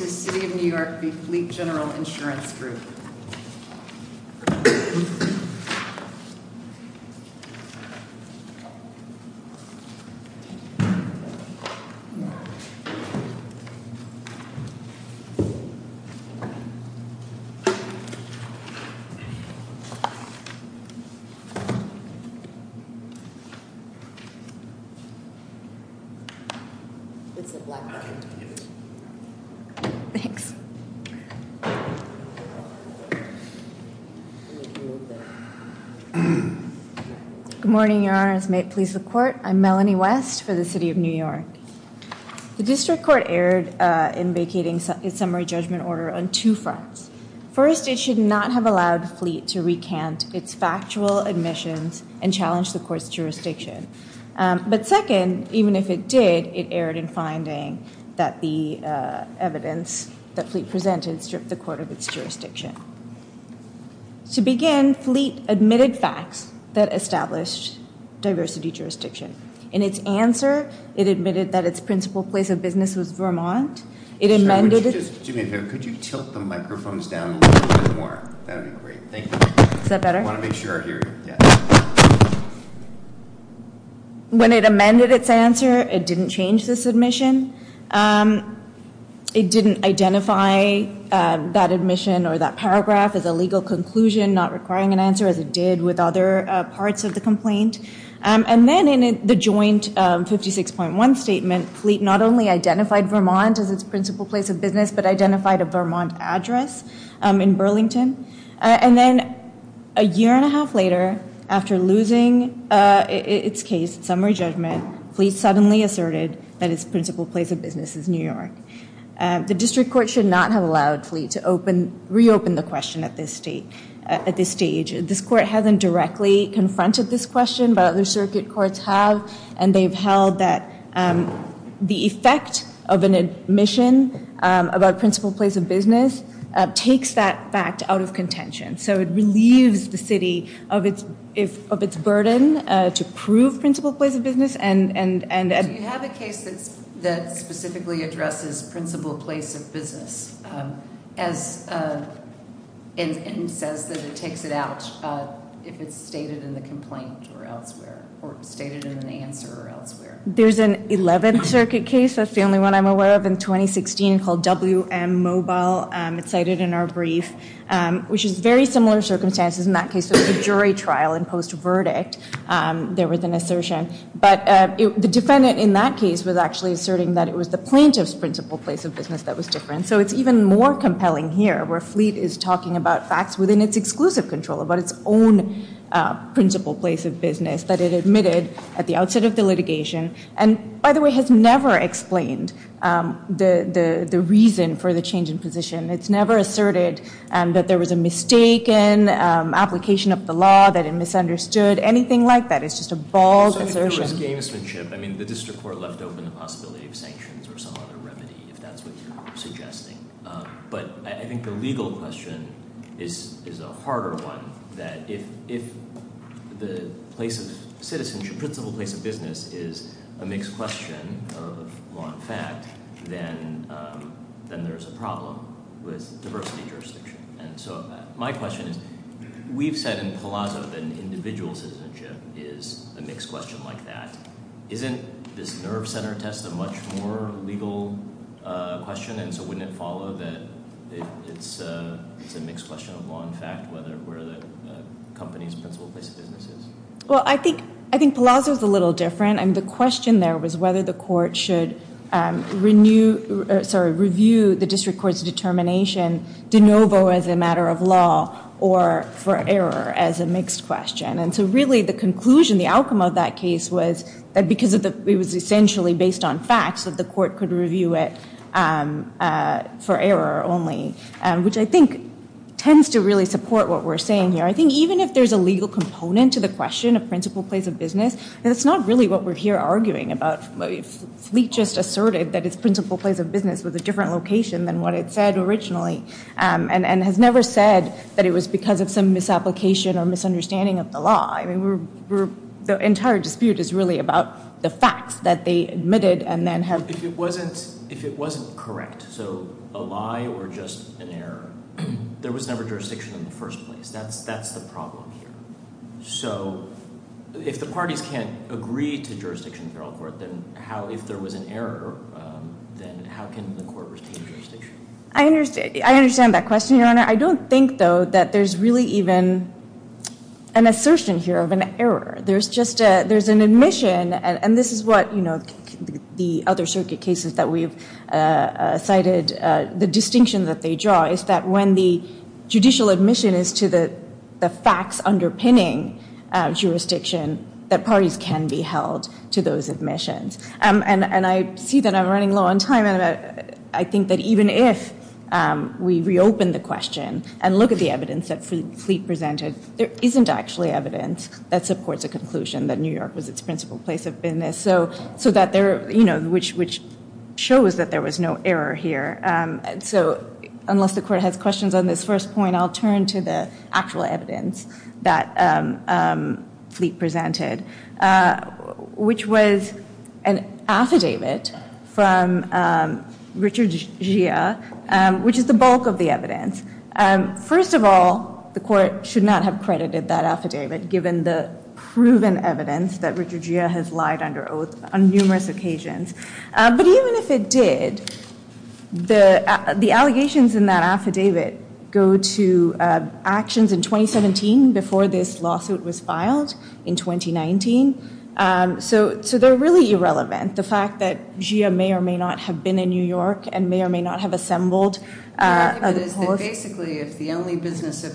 New York v. Fleet General Insurance Group. Marks. Good morning, Your Honor, as may it please the court, I'm Melanie West for the City of New York. The district court erred in vacating its summary judgment order on two fronts. First, it should not have allowed Fleet to recant its factual admissions and challenge the court's jurisdiction. But second, even if it did, it erred in finding that the evidence that Fleet presented stripped the court of its jurisdiction. To begin, Fleet admitted facts that established diversity jurisdiction. In its answer, it admitted that its principal place of business was Vermont. Could you tilt the microphones down a little bit more? When it amended its answer, it didn't change this admission. It didn't identify that admission or that paragraph as a legal conclusion, not requiring an answer as it did with other parts of the complaint. And then in the joint 56.1 statement, Fleet not only identified Vermont as its principal place of business, but identified a Vermont address in Burlington. And then a year and a half later, after losing its case summary judgment, Fleet suddenly asserted that its principal place of business is New York. The district court should not have allowed Fleet to reopen the question at this stage. This court hasn't directly confronted this question, but other circuit courts have. And they've held that the effect of an admission about principal place of business takes that fact out of contention. So it relieves the city of its burden to prove principal place of business. Do you have a case that specifically addresses principal place of business and says that it takes it out if it's stated in the complaint or elsewhere, or stated in an answer or elsewhere? There's an 11th Circuit case, that's the only one I'm aware of, in 2016 called W.M. Mobile. It's cited in our brief, which is very similar circumstances in that case with the jury trial and post-verdict. There was an assertion. But the defendant in that case was actually asserting that it was the plaintiff's principal place of business that was different. So it's even more compelling here, where Fleet is talking about facts within its exclusive control, about its own principal place of business that it admitted at the outset of the litigation. And, by the way, has never explained the reason for the change in position. It's never asserted that there was a mistaken application of the law, that it misunderstood, anything like that. It's just a bold assertion. I mean, the district court left open the possibility of sanctions or some other remedy, if that's what you're suggesting. But I think the legal question is a harder one. That if the place of citizenship, principal place of business is a mixed question of law and fact, then there's a problem with diversity jurisdiction. And so my question is, we've said in Palazzo that an individual citizenship is a mixed question like that. Isn't this nerve center test a much more legal question? And so wouldn't it follow that it's a mixed question of law and fact, where the company's principal place of business is? Well, I think Palazzo's a little different. The question there was whether the court should review the district court's determination de novo as a matter of law or for error as a mixed question. And so really the conclusion, the outcome of that case was that because it was essentially based on facts, that the court could review it for error only. Which I think tends to really support what we're saying here. I think even if there's a legal component to the question of principal place of business, that's not really what we're here arguing about. Fleet just asserted that its principal place of business was a different location than what it said originally. And has never said that it was because of some misapplication or misunderstanding of the law. The entire dispute is really about the facts that they admitted and then have- If it wasn't correct, so a lie or just an error, there was never jurisdiction in the first place. That's the problem here. So if the parties can't agree to jurisdiction in federal court, then if there was an error, then how can the court retain jurisdiction? I understand that question, Your Honor. I don't think, though, that there's really even an assertion here of an error. There's an admission, and this is what the other circuit cases that we've cited, the distinction that they draw, is that when the judicial admission is to the facts underpinning jurisdiction, that parties can be held to those admissions. And I see that I'm running low on time. I think that even if we reopen the question and look at the evidence that Fleet presented, there isn't actually evidence that supports a conclusion that New York was its principal place of business. So that there, you know, which shows that there was no error here. So unless the court has questions on this first point, I'll turn to the actual evidence that Fleet presented. Which was an affidavit from Richard Gia, which is the bulk of the evidence. First of all, the court should not have credited that affidavit, given the proven evidence that Richard Gia has lied under oath on numerous occasions. But even if it did, the allegations in that affidavit go to actions in 2017, before this lawsuit was filed, in 2019. So they're really irrelevant. The fact that Gia may or may not have been in New York, and may or may not have assembled. Basically, if the only business of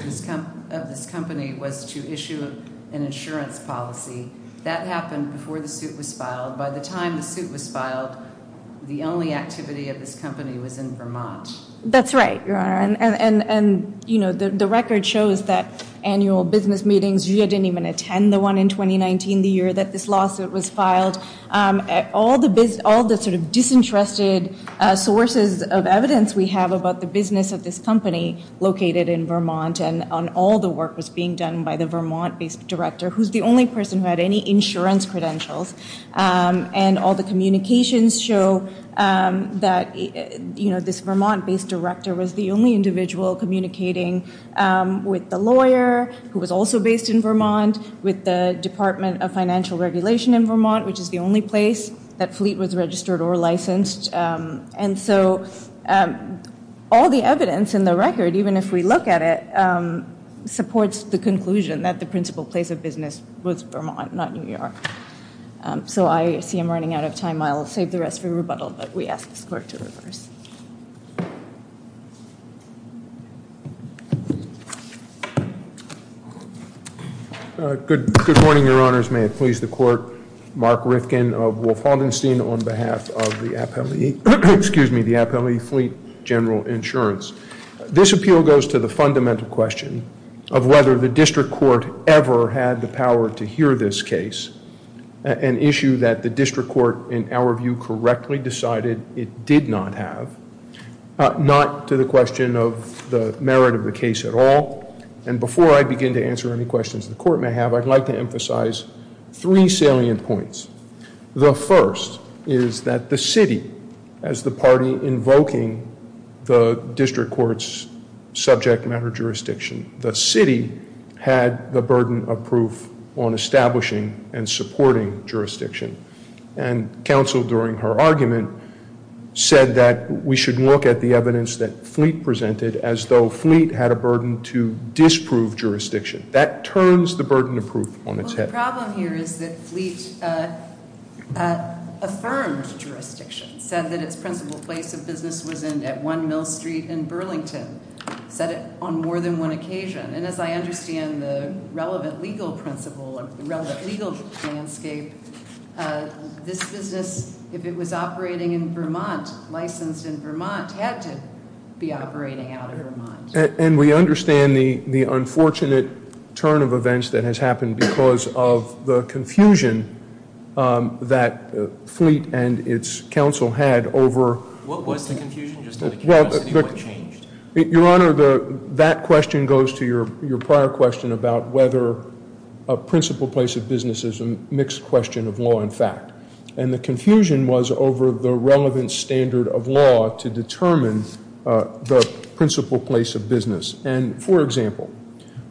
this company was to issue an insurance policy, that happened before the suit was filed. By the time the suit was filed, the only activity of this company was in Vermont. That's right, Your Honor. And, you know, the record shows that annual business meetings, Gia didn't even attend the one in 2019, the year that this lawsuit was filed. All the sort of disinterested sources of evidence we have about the business of this company, located in Vermont. And all the work was being done by the Vermont-based director, who's the only person who had any insurance credentials. And all the communications show that, you know, this Vermont-based director was the only individual communicating with the lawyer, who was also based in Vermont, with the Department of Financial Regulation in Vermont, which is the only place that Fleet was registered or licensed. And so, all the evidence in the record, even if we look at it, supports the conclusion that the principal place of business was Vermont, not New York. So, I see I'm running out of time. I'll save the rest for rebuttal, but we ask this Court to reverse. Good morning, Your Honors. May it please the Court. Mark Rifkin of Wolf-Haldenstein on behalf of the Appellee, excuse me, the Appellee Fleet General Insurance. This appeal goes to the fundamental question of whether the District Court ever had the power to hear this case, an issue that the District Court, in our view, correctly decided it did not have, not to the question of the merit of the case at all. And before I begin to answer any questions the Court may have, I'd like to emphasize three salient points. The first is that the city, as the party invoking the District Court's subject matter jurisdiction, the city had the burden of proof on establishing and supporting jurisdiction. And counsel, during her argument, said that we should look at the evidence that Fleet presented as though Fleet had a burden to disprove jurisdiction. That turns the burden of proof on its head. The problem here is that Fleet affirmed jurisdiction, said that its principal place of business was at 1 Mill Street in Burlington, said it on more than one occasion. And as I understand the relevant legal principle, relevant legal landscape, this business, if it was operating in Vermont, licensed in Vermont, had to be operating out of Vermont. And we understand the unfortunate turn of events that has happened because of the confusion that Fleet and its counsel had over... What was the confusion? Just in the case of the city, what changed? Your Honor, that question goes to your prior question about whether a principal place of business is a mixed question of law and fact. And the confusion was over the relevant standard of law to determine the principal place of business. And, for example,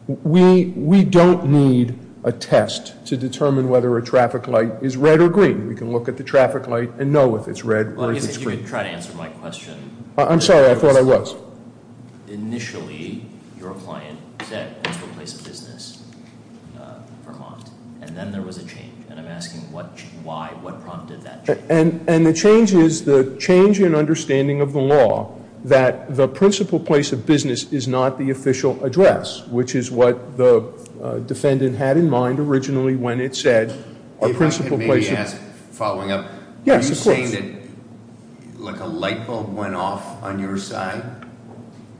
we don't need a test to determine whether a traffic light is red or green. We can look at the traffic light and know if it's red or if it's green. I'm sorry, I thought I was. Initially, your client said principal place of business, Vermont. And then there was a change. And I'm asking why, what prompted that change? And the change is the change in understanding of the law that the principal place of business is not the official address, which is what the defendant had in mind originally when it said- If I could maybe ask, following up. Yes, of course. Like a light bulb went off on your side?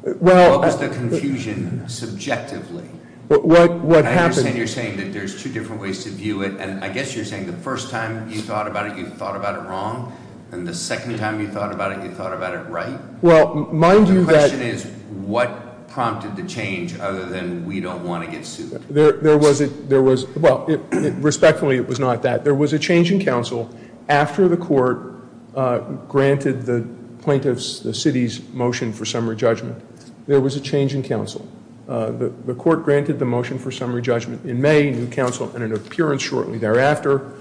What was the confusion subjectively? What happened? I understand you're saying that there's two different ways to view it. And I guess you're saying the first time you thought about it, you thought about it wrong. And the second time you thought about it, you thought about it right? Well, mind you that- The question is what prompted the change other than we don't want to get sued? There was a- well, respectfully, it was not that. There was a change in counsel after the court granted the plaintiff's, the city's motion for summary judgment. There was a change in counsel. The court granted the motion for summary judgment in May. New counsel had an appearance shortly thereafter.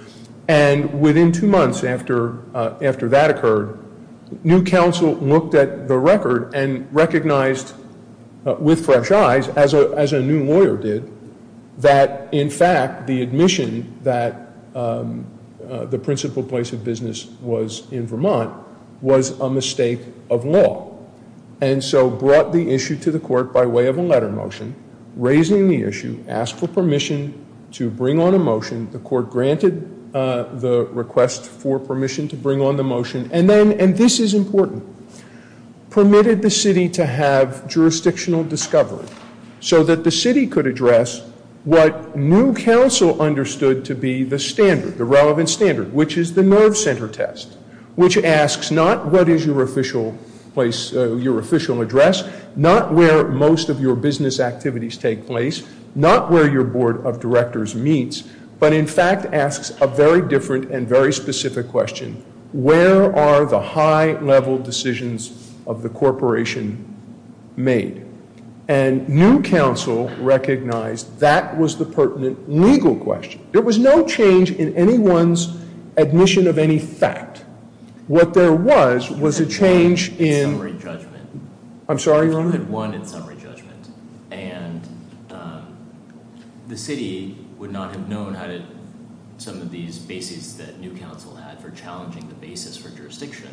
And within two months after that occurred, new counsel looked at the record and recognized with fresh eyes, as a new lawyer did, that in fact the admission that the principal place of business was in Vermont was a mistake of law. And so brought the issue to the court by way of a letter motion, raising the issue, asked for permission to bring on a motion. The court granted the request for permission to bring on the motion. And then, and this is important, permitted the city to have jurisdictional discovery, so that the city could address what new counsel understood to be the standard, the relevant standard, which is the nerve center test, which asks not what is your official place, your official address, not where most of your business activities take place, not where your board of directors meets, but in fact asks a very different and very specific question. Where are the high level decisions of the corporation made? And new counsel recognized that was the pertinent legal question. There was no change in anyone's admission of any fact. What there was, was a change in- You had won in summary judgment. I'm sorry, Roman? You had won in summary judgment. And the city would not have known how to, some of these bases that new counsel had for challenging the basis for jurisdiction.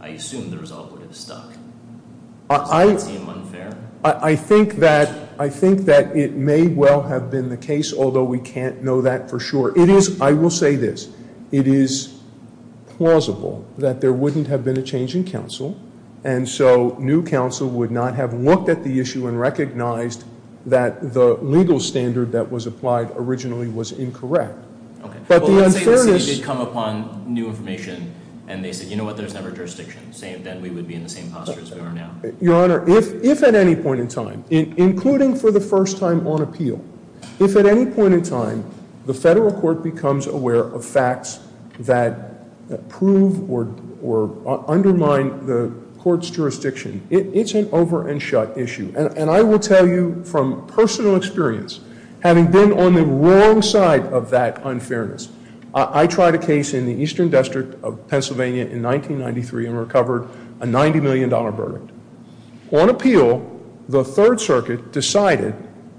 I assume the result would have stuck. Is that seem unfair? I think that it may well have been the case, although we can't know that for sure. It is, I will say this, it is plausible that there wouldn't have been a change in counsel, and so new counsel would not have looked at the issue and recognized that the legal standard that was applied originally was incorrect. But the unfairness- Well, let's say the city did come upon new information, and they said, you know what, there's never jurisdiction. Then we would be in the same posture as we are now. Your Honor, if at any point in time, including for the first time on appeal, if at any point in time the federal court becomes aware of facts that prove or undermine the court's jurisdiction, it's an over-and-shut issue. And I will tell you from personal experience, having been on the wrong side of that unfairness, I tried a case in the Eastern District of Pennsylvania in 1993 and recovered a $90 million verdict. On appeal, the Third Circuit decided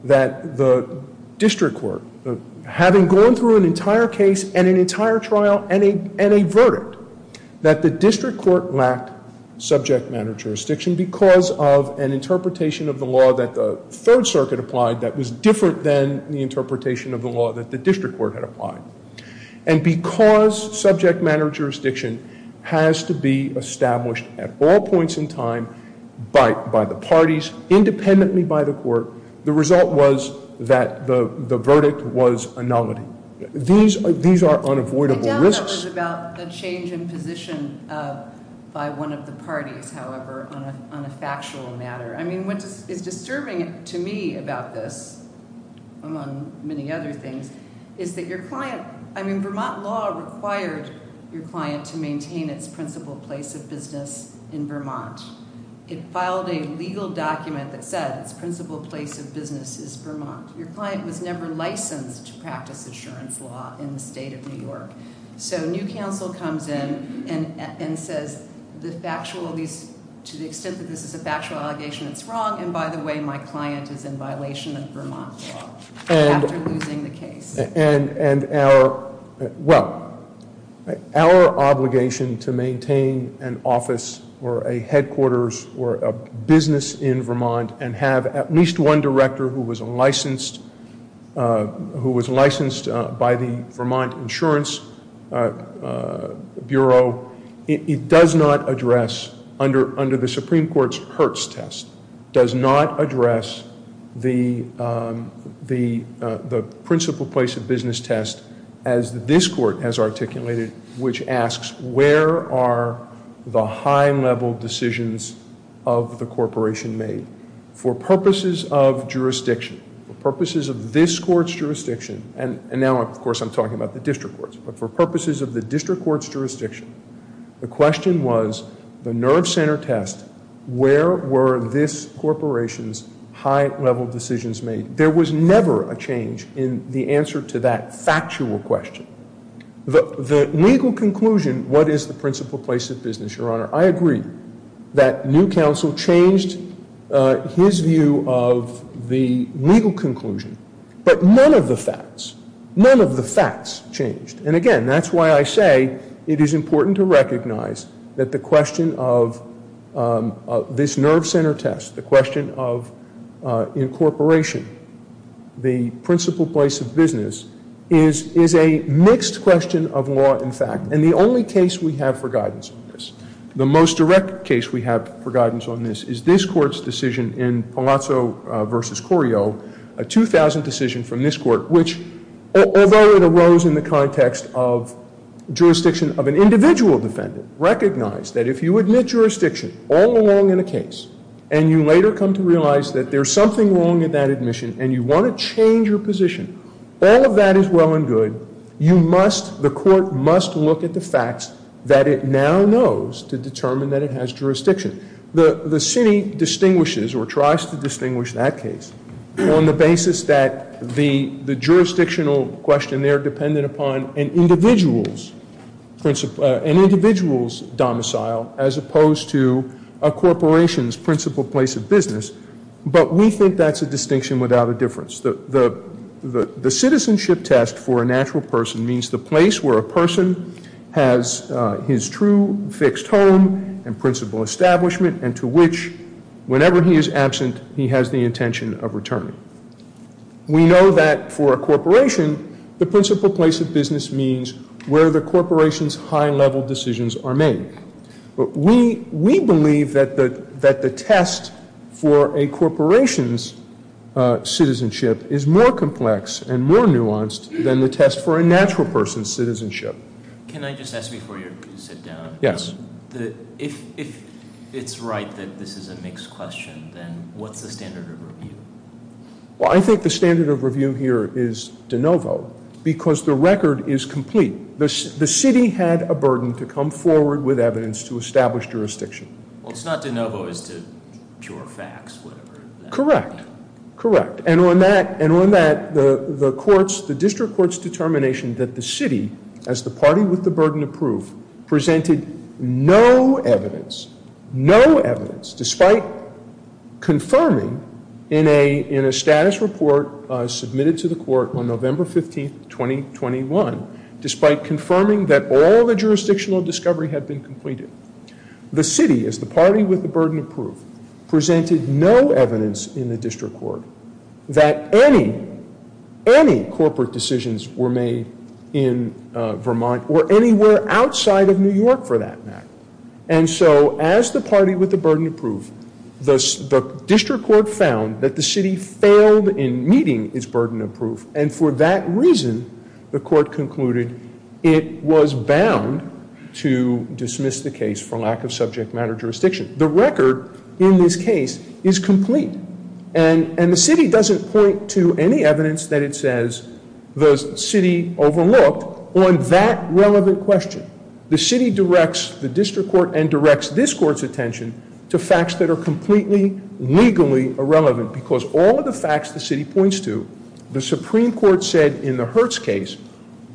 that the district court, having gone through an entire case and an entire trial and a verdict, that the district court lacked subject matter jurisdiction because of an interpretation of the law that the Third Circuit applied that was different than the interpretation of the law that the district court had applied. And because subject matter jurisdiction has to be established at all points in time by the parties, independently by the court, the result was that the verdict was a nominee. These are unavoidable risks. I doubt that was about the change in position by one of the parties, however, on a factual matter. I mean, what is disturbing to me about this, among many other things, is that your client, I mean, Vermont law required your client to maintain its principal place of business in Vermont. It filed a legal document that said its principal place of business is Vermont. Your client was never licensed to practice assurance law in the state of New York. So New Counsel comes in and says, to the extent that this is a factual allegation, it's wrong, and by the way, my client is in violation of Vermont law after losing the case. And our, well, our obligation to maintain an office or a headquarters or a business in Vermont and have at least one director who was licensed by the Vermont Insurance Bureau, so it does not address, under the Supreme Court's Hertz test, does not address the principal place of business test as this court has articulated, which asks where are the high-level decisions of the corporation made. For purposes of jurisdiction, for purposes of this court's jurisdiction, and now, of course, I'm talking about the district courts, but for purposes of the district court's jurisdiction, the question was the nerve center test, where were this corporation's high-level decisions made. There was never a change in the answer to that factual question. The legal conclusion, what is the principal place of business, Your Honor, I agree that new counsel changed his view of the legal conclusion, but none of the facts, none of the facts changed. And, again, that's why I say it is important to recognize that the question of this nerve center test, the question of incorporation, the principal place of business, is a mixed question of law and fact, and the only case we have for guidance on this, the most direct case we have for guidance on this, is this court's decision in Palazzo v. Corio, a 2000 decision from this court, which, although it arose in the context of jurisdiction of an individual defendant, recognized that if you admit jurisdiction all along in a case, and you later come to realize that there's something wrong in that admission, and you want to change your position, all of that is well and good. You must, the court must look at the facts that it now knows to determine that it has jurisdiction. The city distinguishes or tries to distinguish that case on the basis that the jurisdictional question there depended upon an individual's domicile as opposed to a corporation's principal place of business, but we think that's a distinction without a difference. The citizenship test for a natural person means the place where a person has his true fixed home and principal establishment, and to which, whenever he is absent, he has the intention of returning. We know that for a corporation, the principal place of business means where the corporation's high-level decisions are made. We believe that the test for a corporation's citizenship is more complex and more nuanced than the test for a natural person's citizenship. Can I just ask before you sit down? Yes. If it's right that this is a mixed question, then what's the standard of review? Well, I think the standard of review here is de novo, because the record is complete. The city had a burden to come forward with evidence to establish jurisdiction. Well, it's not de novo. It's to cure facts, whatever that means. Correct. Correct. And on that, the district court's determination that the city, as the party with the burden of proof, presented no evidence, no evidence, despite confirming in a status report submitted to the court on November 15, 2021, despite confirming that all the jurisdictional discovery had been completed, the city, as the party with the burden of proof, presented no evidence in the district court that any, any corporate decisions were made in Vermont or anywhere outside of New York for that matter. And so, as the party with the burden of proof, the district court found that the city failed in meeting its burden of proof, and for that reason, the court concluded it was bound to dismiss the case for lack of subject matter jurisdiction. The record in this case is complete, and the city doesn't point to any evidence that it says the city overlooked on that relevant question. The city directs the district court and directs this court's attention to facts that are completely legally irrelevant, because all of the facts the city points to, the Supreme Court said in the Hertz case,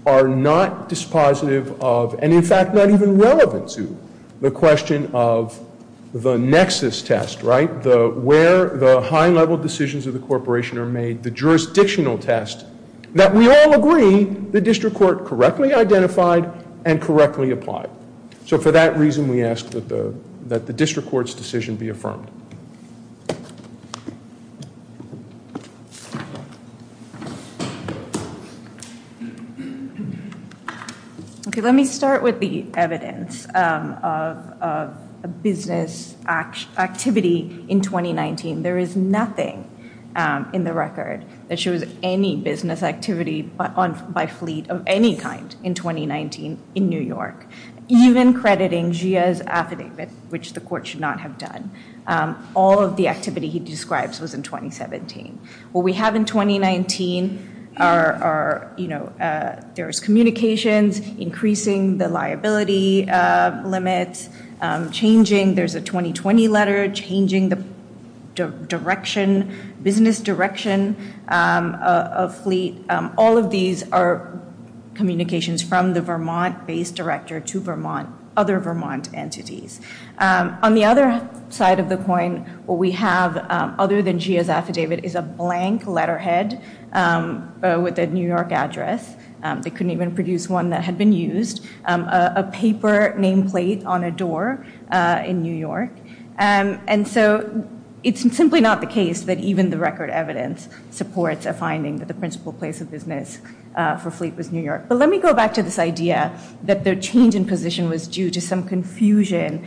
are not dispositive of, and in fact, not even relevant to, the question of the nexus test, right, where the high-level decisions of the corporation are made, the jurisdictional test, that we all agree the district court correctly identified and correctly applied. So for that reason, we ask that the district court's decision be affirmed. Okay, let me start with the evidence of a business activity in 2019. There is nothing in the record that shows any business activity by fleet of any kind in 2019 in New York, even crediting Jia's affidavit, which the court should not have done. All of the activity he describes was in 2017. What we have in 2019 are, you know, there's communications, increasing the liability limits, changing, there's a 2020 letter, changing the direction, business direction of fleet. All of these are communications from the Vermont-based director to Vermont, other Vermont entities. On the other side of the coin, what we have, other than Jia's affidavit, is a blank letterhead with a New York address. They couldn't even produce one that had been used, a paper nameplate on a door in New York. And so it's simply not the case that even the record evidence supports a finding that the principal place of business for fleet was New York. But let me go back to this idea that the change in position was due to some confusion,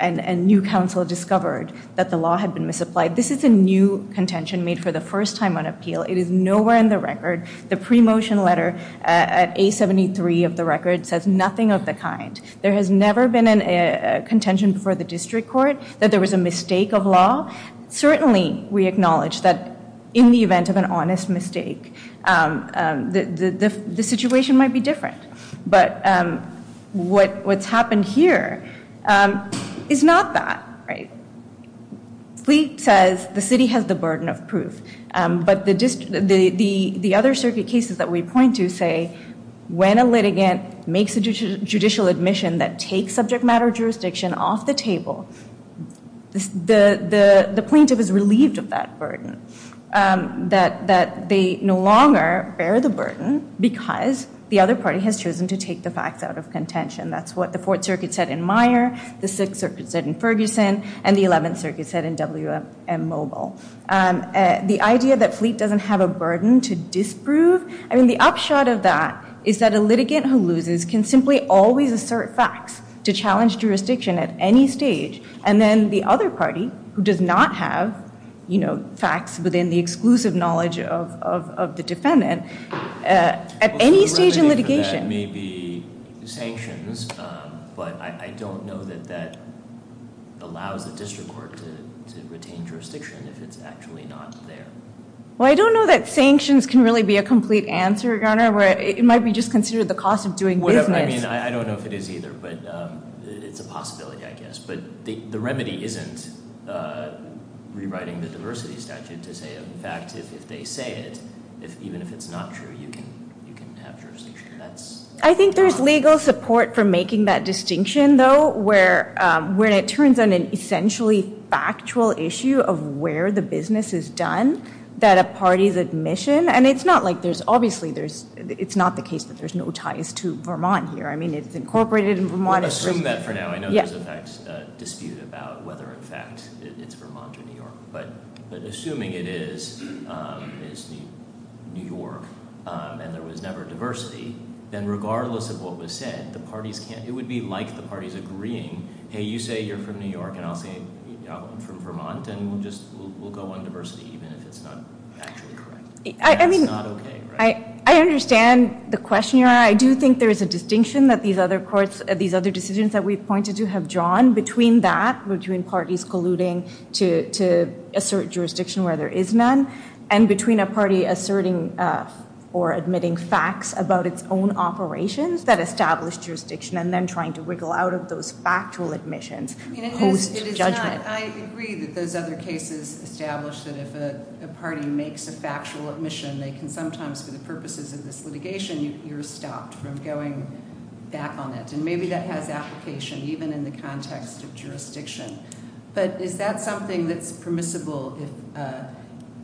and new counsel discovered that the law had been misapplied. This is a new contention made for the first time on appeal. It is nowhere in the record. The pre-motion letter at A73 of the record says nothing of the kind. There has never been a contention before the district court that there was a mistake of law. Certainly, we acknowledge that in the event of an honest mistake, the situation might be different. But what's happened here is not that, right? Fleet says the city has the burden of proof. But the other circuit cases that we point to say, when a litigant makes a judicial admission that takes subject matter jurisdiction off the table, the plaintiff is relieved of that burden, that they no longer bear the burden because the other party has chosen to take the facts out of contention. That's what the Fourth Circuit said in Meyer, the Sixth Circuit said in Ferguson, and the Eleventh Circuit said in W.M. Mobile. The idea that Fleet doesn't have a burden to disprove, I mean, the upshot of that is that a litigant who loses can simply always assert facts to challenge jurisdiction at any stage, and then the other party, who does not have facts within the exclusive knowledge of the defendant, at any stage in litigation. That may be sanctions, but I don't know that that allows the district court to retain jurisdiction if it's actually not there. Well, I don't know that sanctions can really be a complete answer, Your Honor. It might be just considered the cost of doing business. I don't know if it is either, but it's a possibility, I guess. But the remedy isn't rewriting the diversity statute to say, in fact, if they say it, even if it's not true, you can have jurisdiction. I think there's legal support for making that distinction, though, where it turns on an essentially factual issue of where the business is done that a party's admission, and it's not like there's, obviously, it's not the case that there's no ties to Vermont here. I mean, it's incorporated in Vermont. Assume that for now. I know there's, in fact, a dispute about whether, in fact, it's Vermont or New York, but assuming it is New York and there was never diversity, then regardless of what was said, it would be like the parties agreeing, hey, you say you're from New York, and I'll say I'm from Vermont, and we'll go on diversity even if it's not actually correct. That's not okay, right? I understand the question, Your Honor. I do think there is a distinction that these other decisions that we've pointed to have drawn between that, between parties colluding to assert jurisdiction where there is none, and between a party asserting or admitting facts about its own operations that establish jurisdiction and then trying to wriggle out of those factual admissions post-judgment. I agree that those other cases establish that if a party makes a factual admission, they can sometimes, for the purposes of this litigation, you're stopped from going back on it, and maybe that has application even in the context of jurisdiction. But is that something that's permissible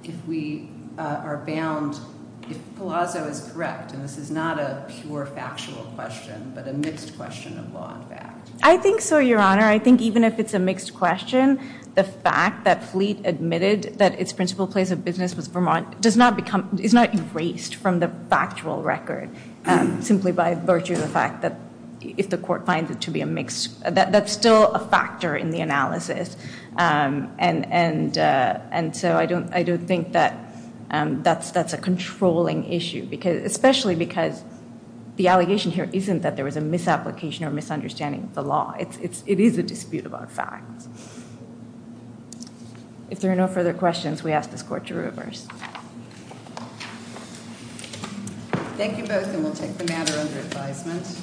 if we are bound, if Palazzo is correct, and this is not a pure factual question but a mixed question of law and fact? I think so, Your Honor. I think even if it's a mixed question, the fact that Fleet admitted that its principal place of business was Vermont is not erased from the factual record simply by virtue of the fact that if the court finds it to be a mixed, that's still a factor in the analysis. And so I don't think that that's a controlling issue, especially because the allegation here isn't that there was a misapplication or misunderstanding of the law. It is a dispute about facts. If there are no further questions, we ask this Court to reverse. Thank you both, and we'll take the matter under advisement.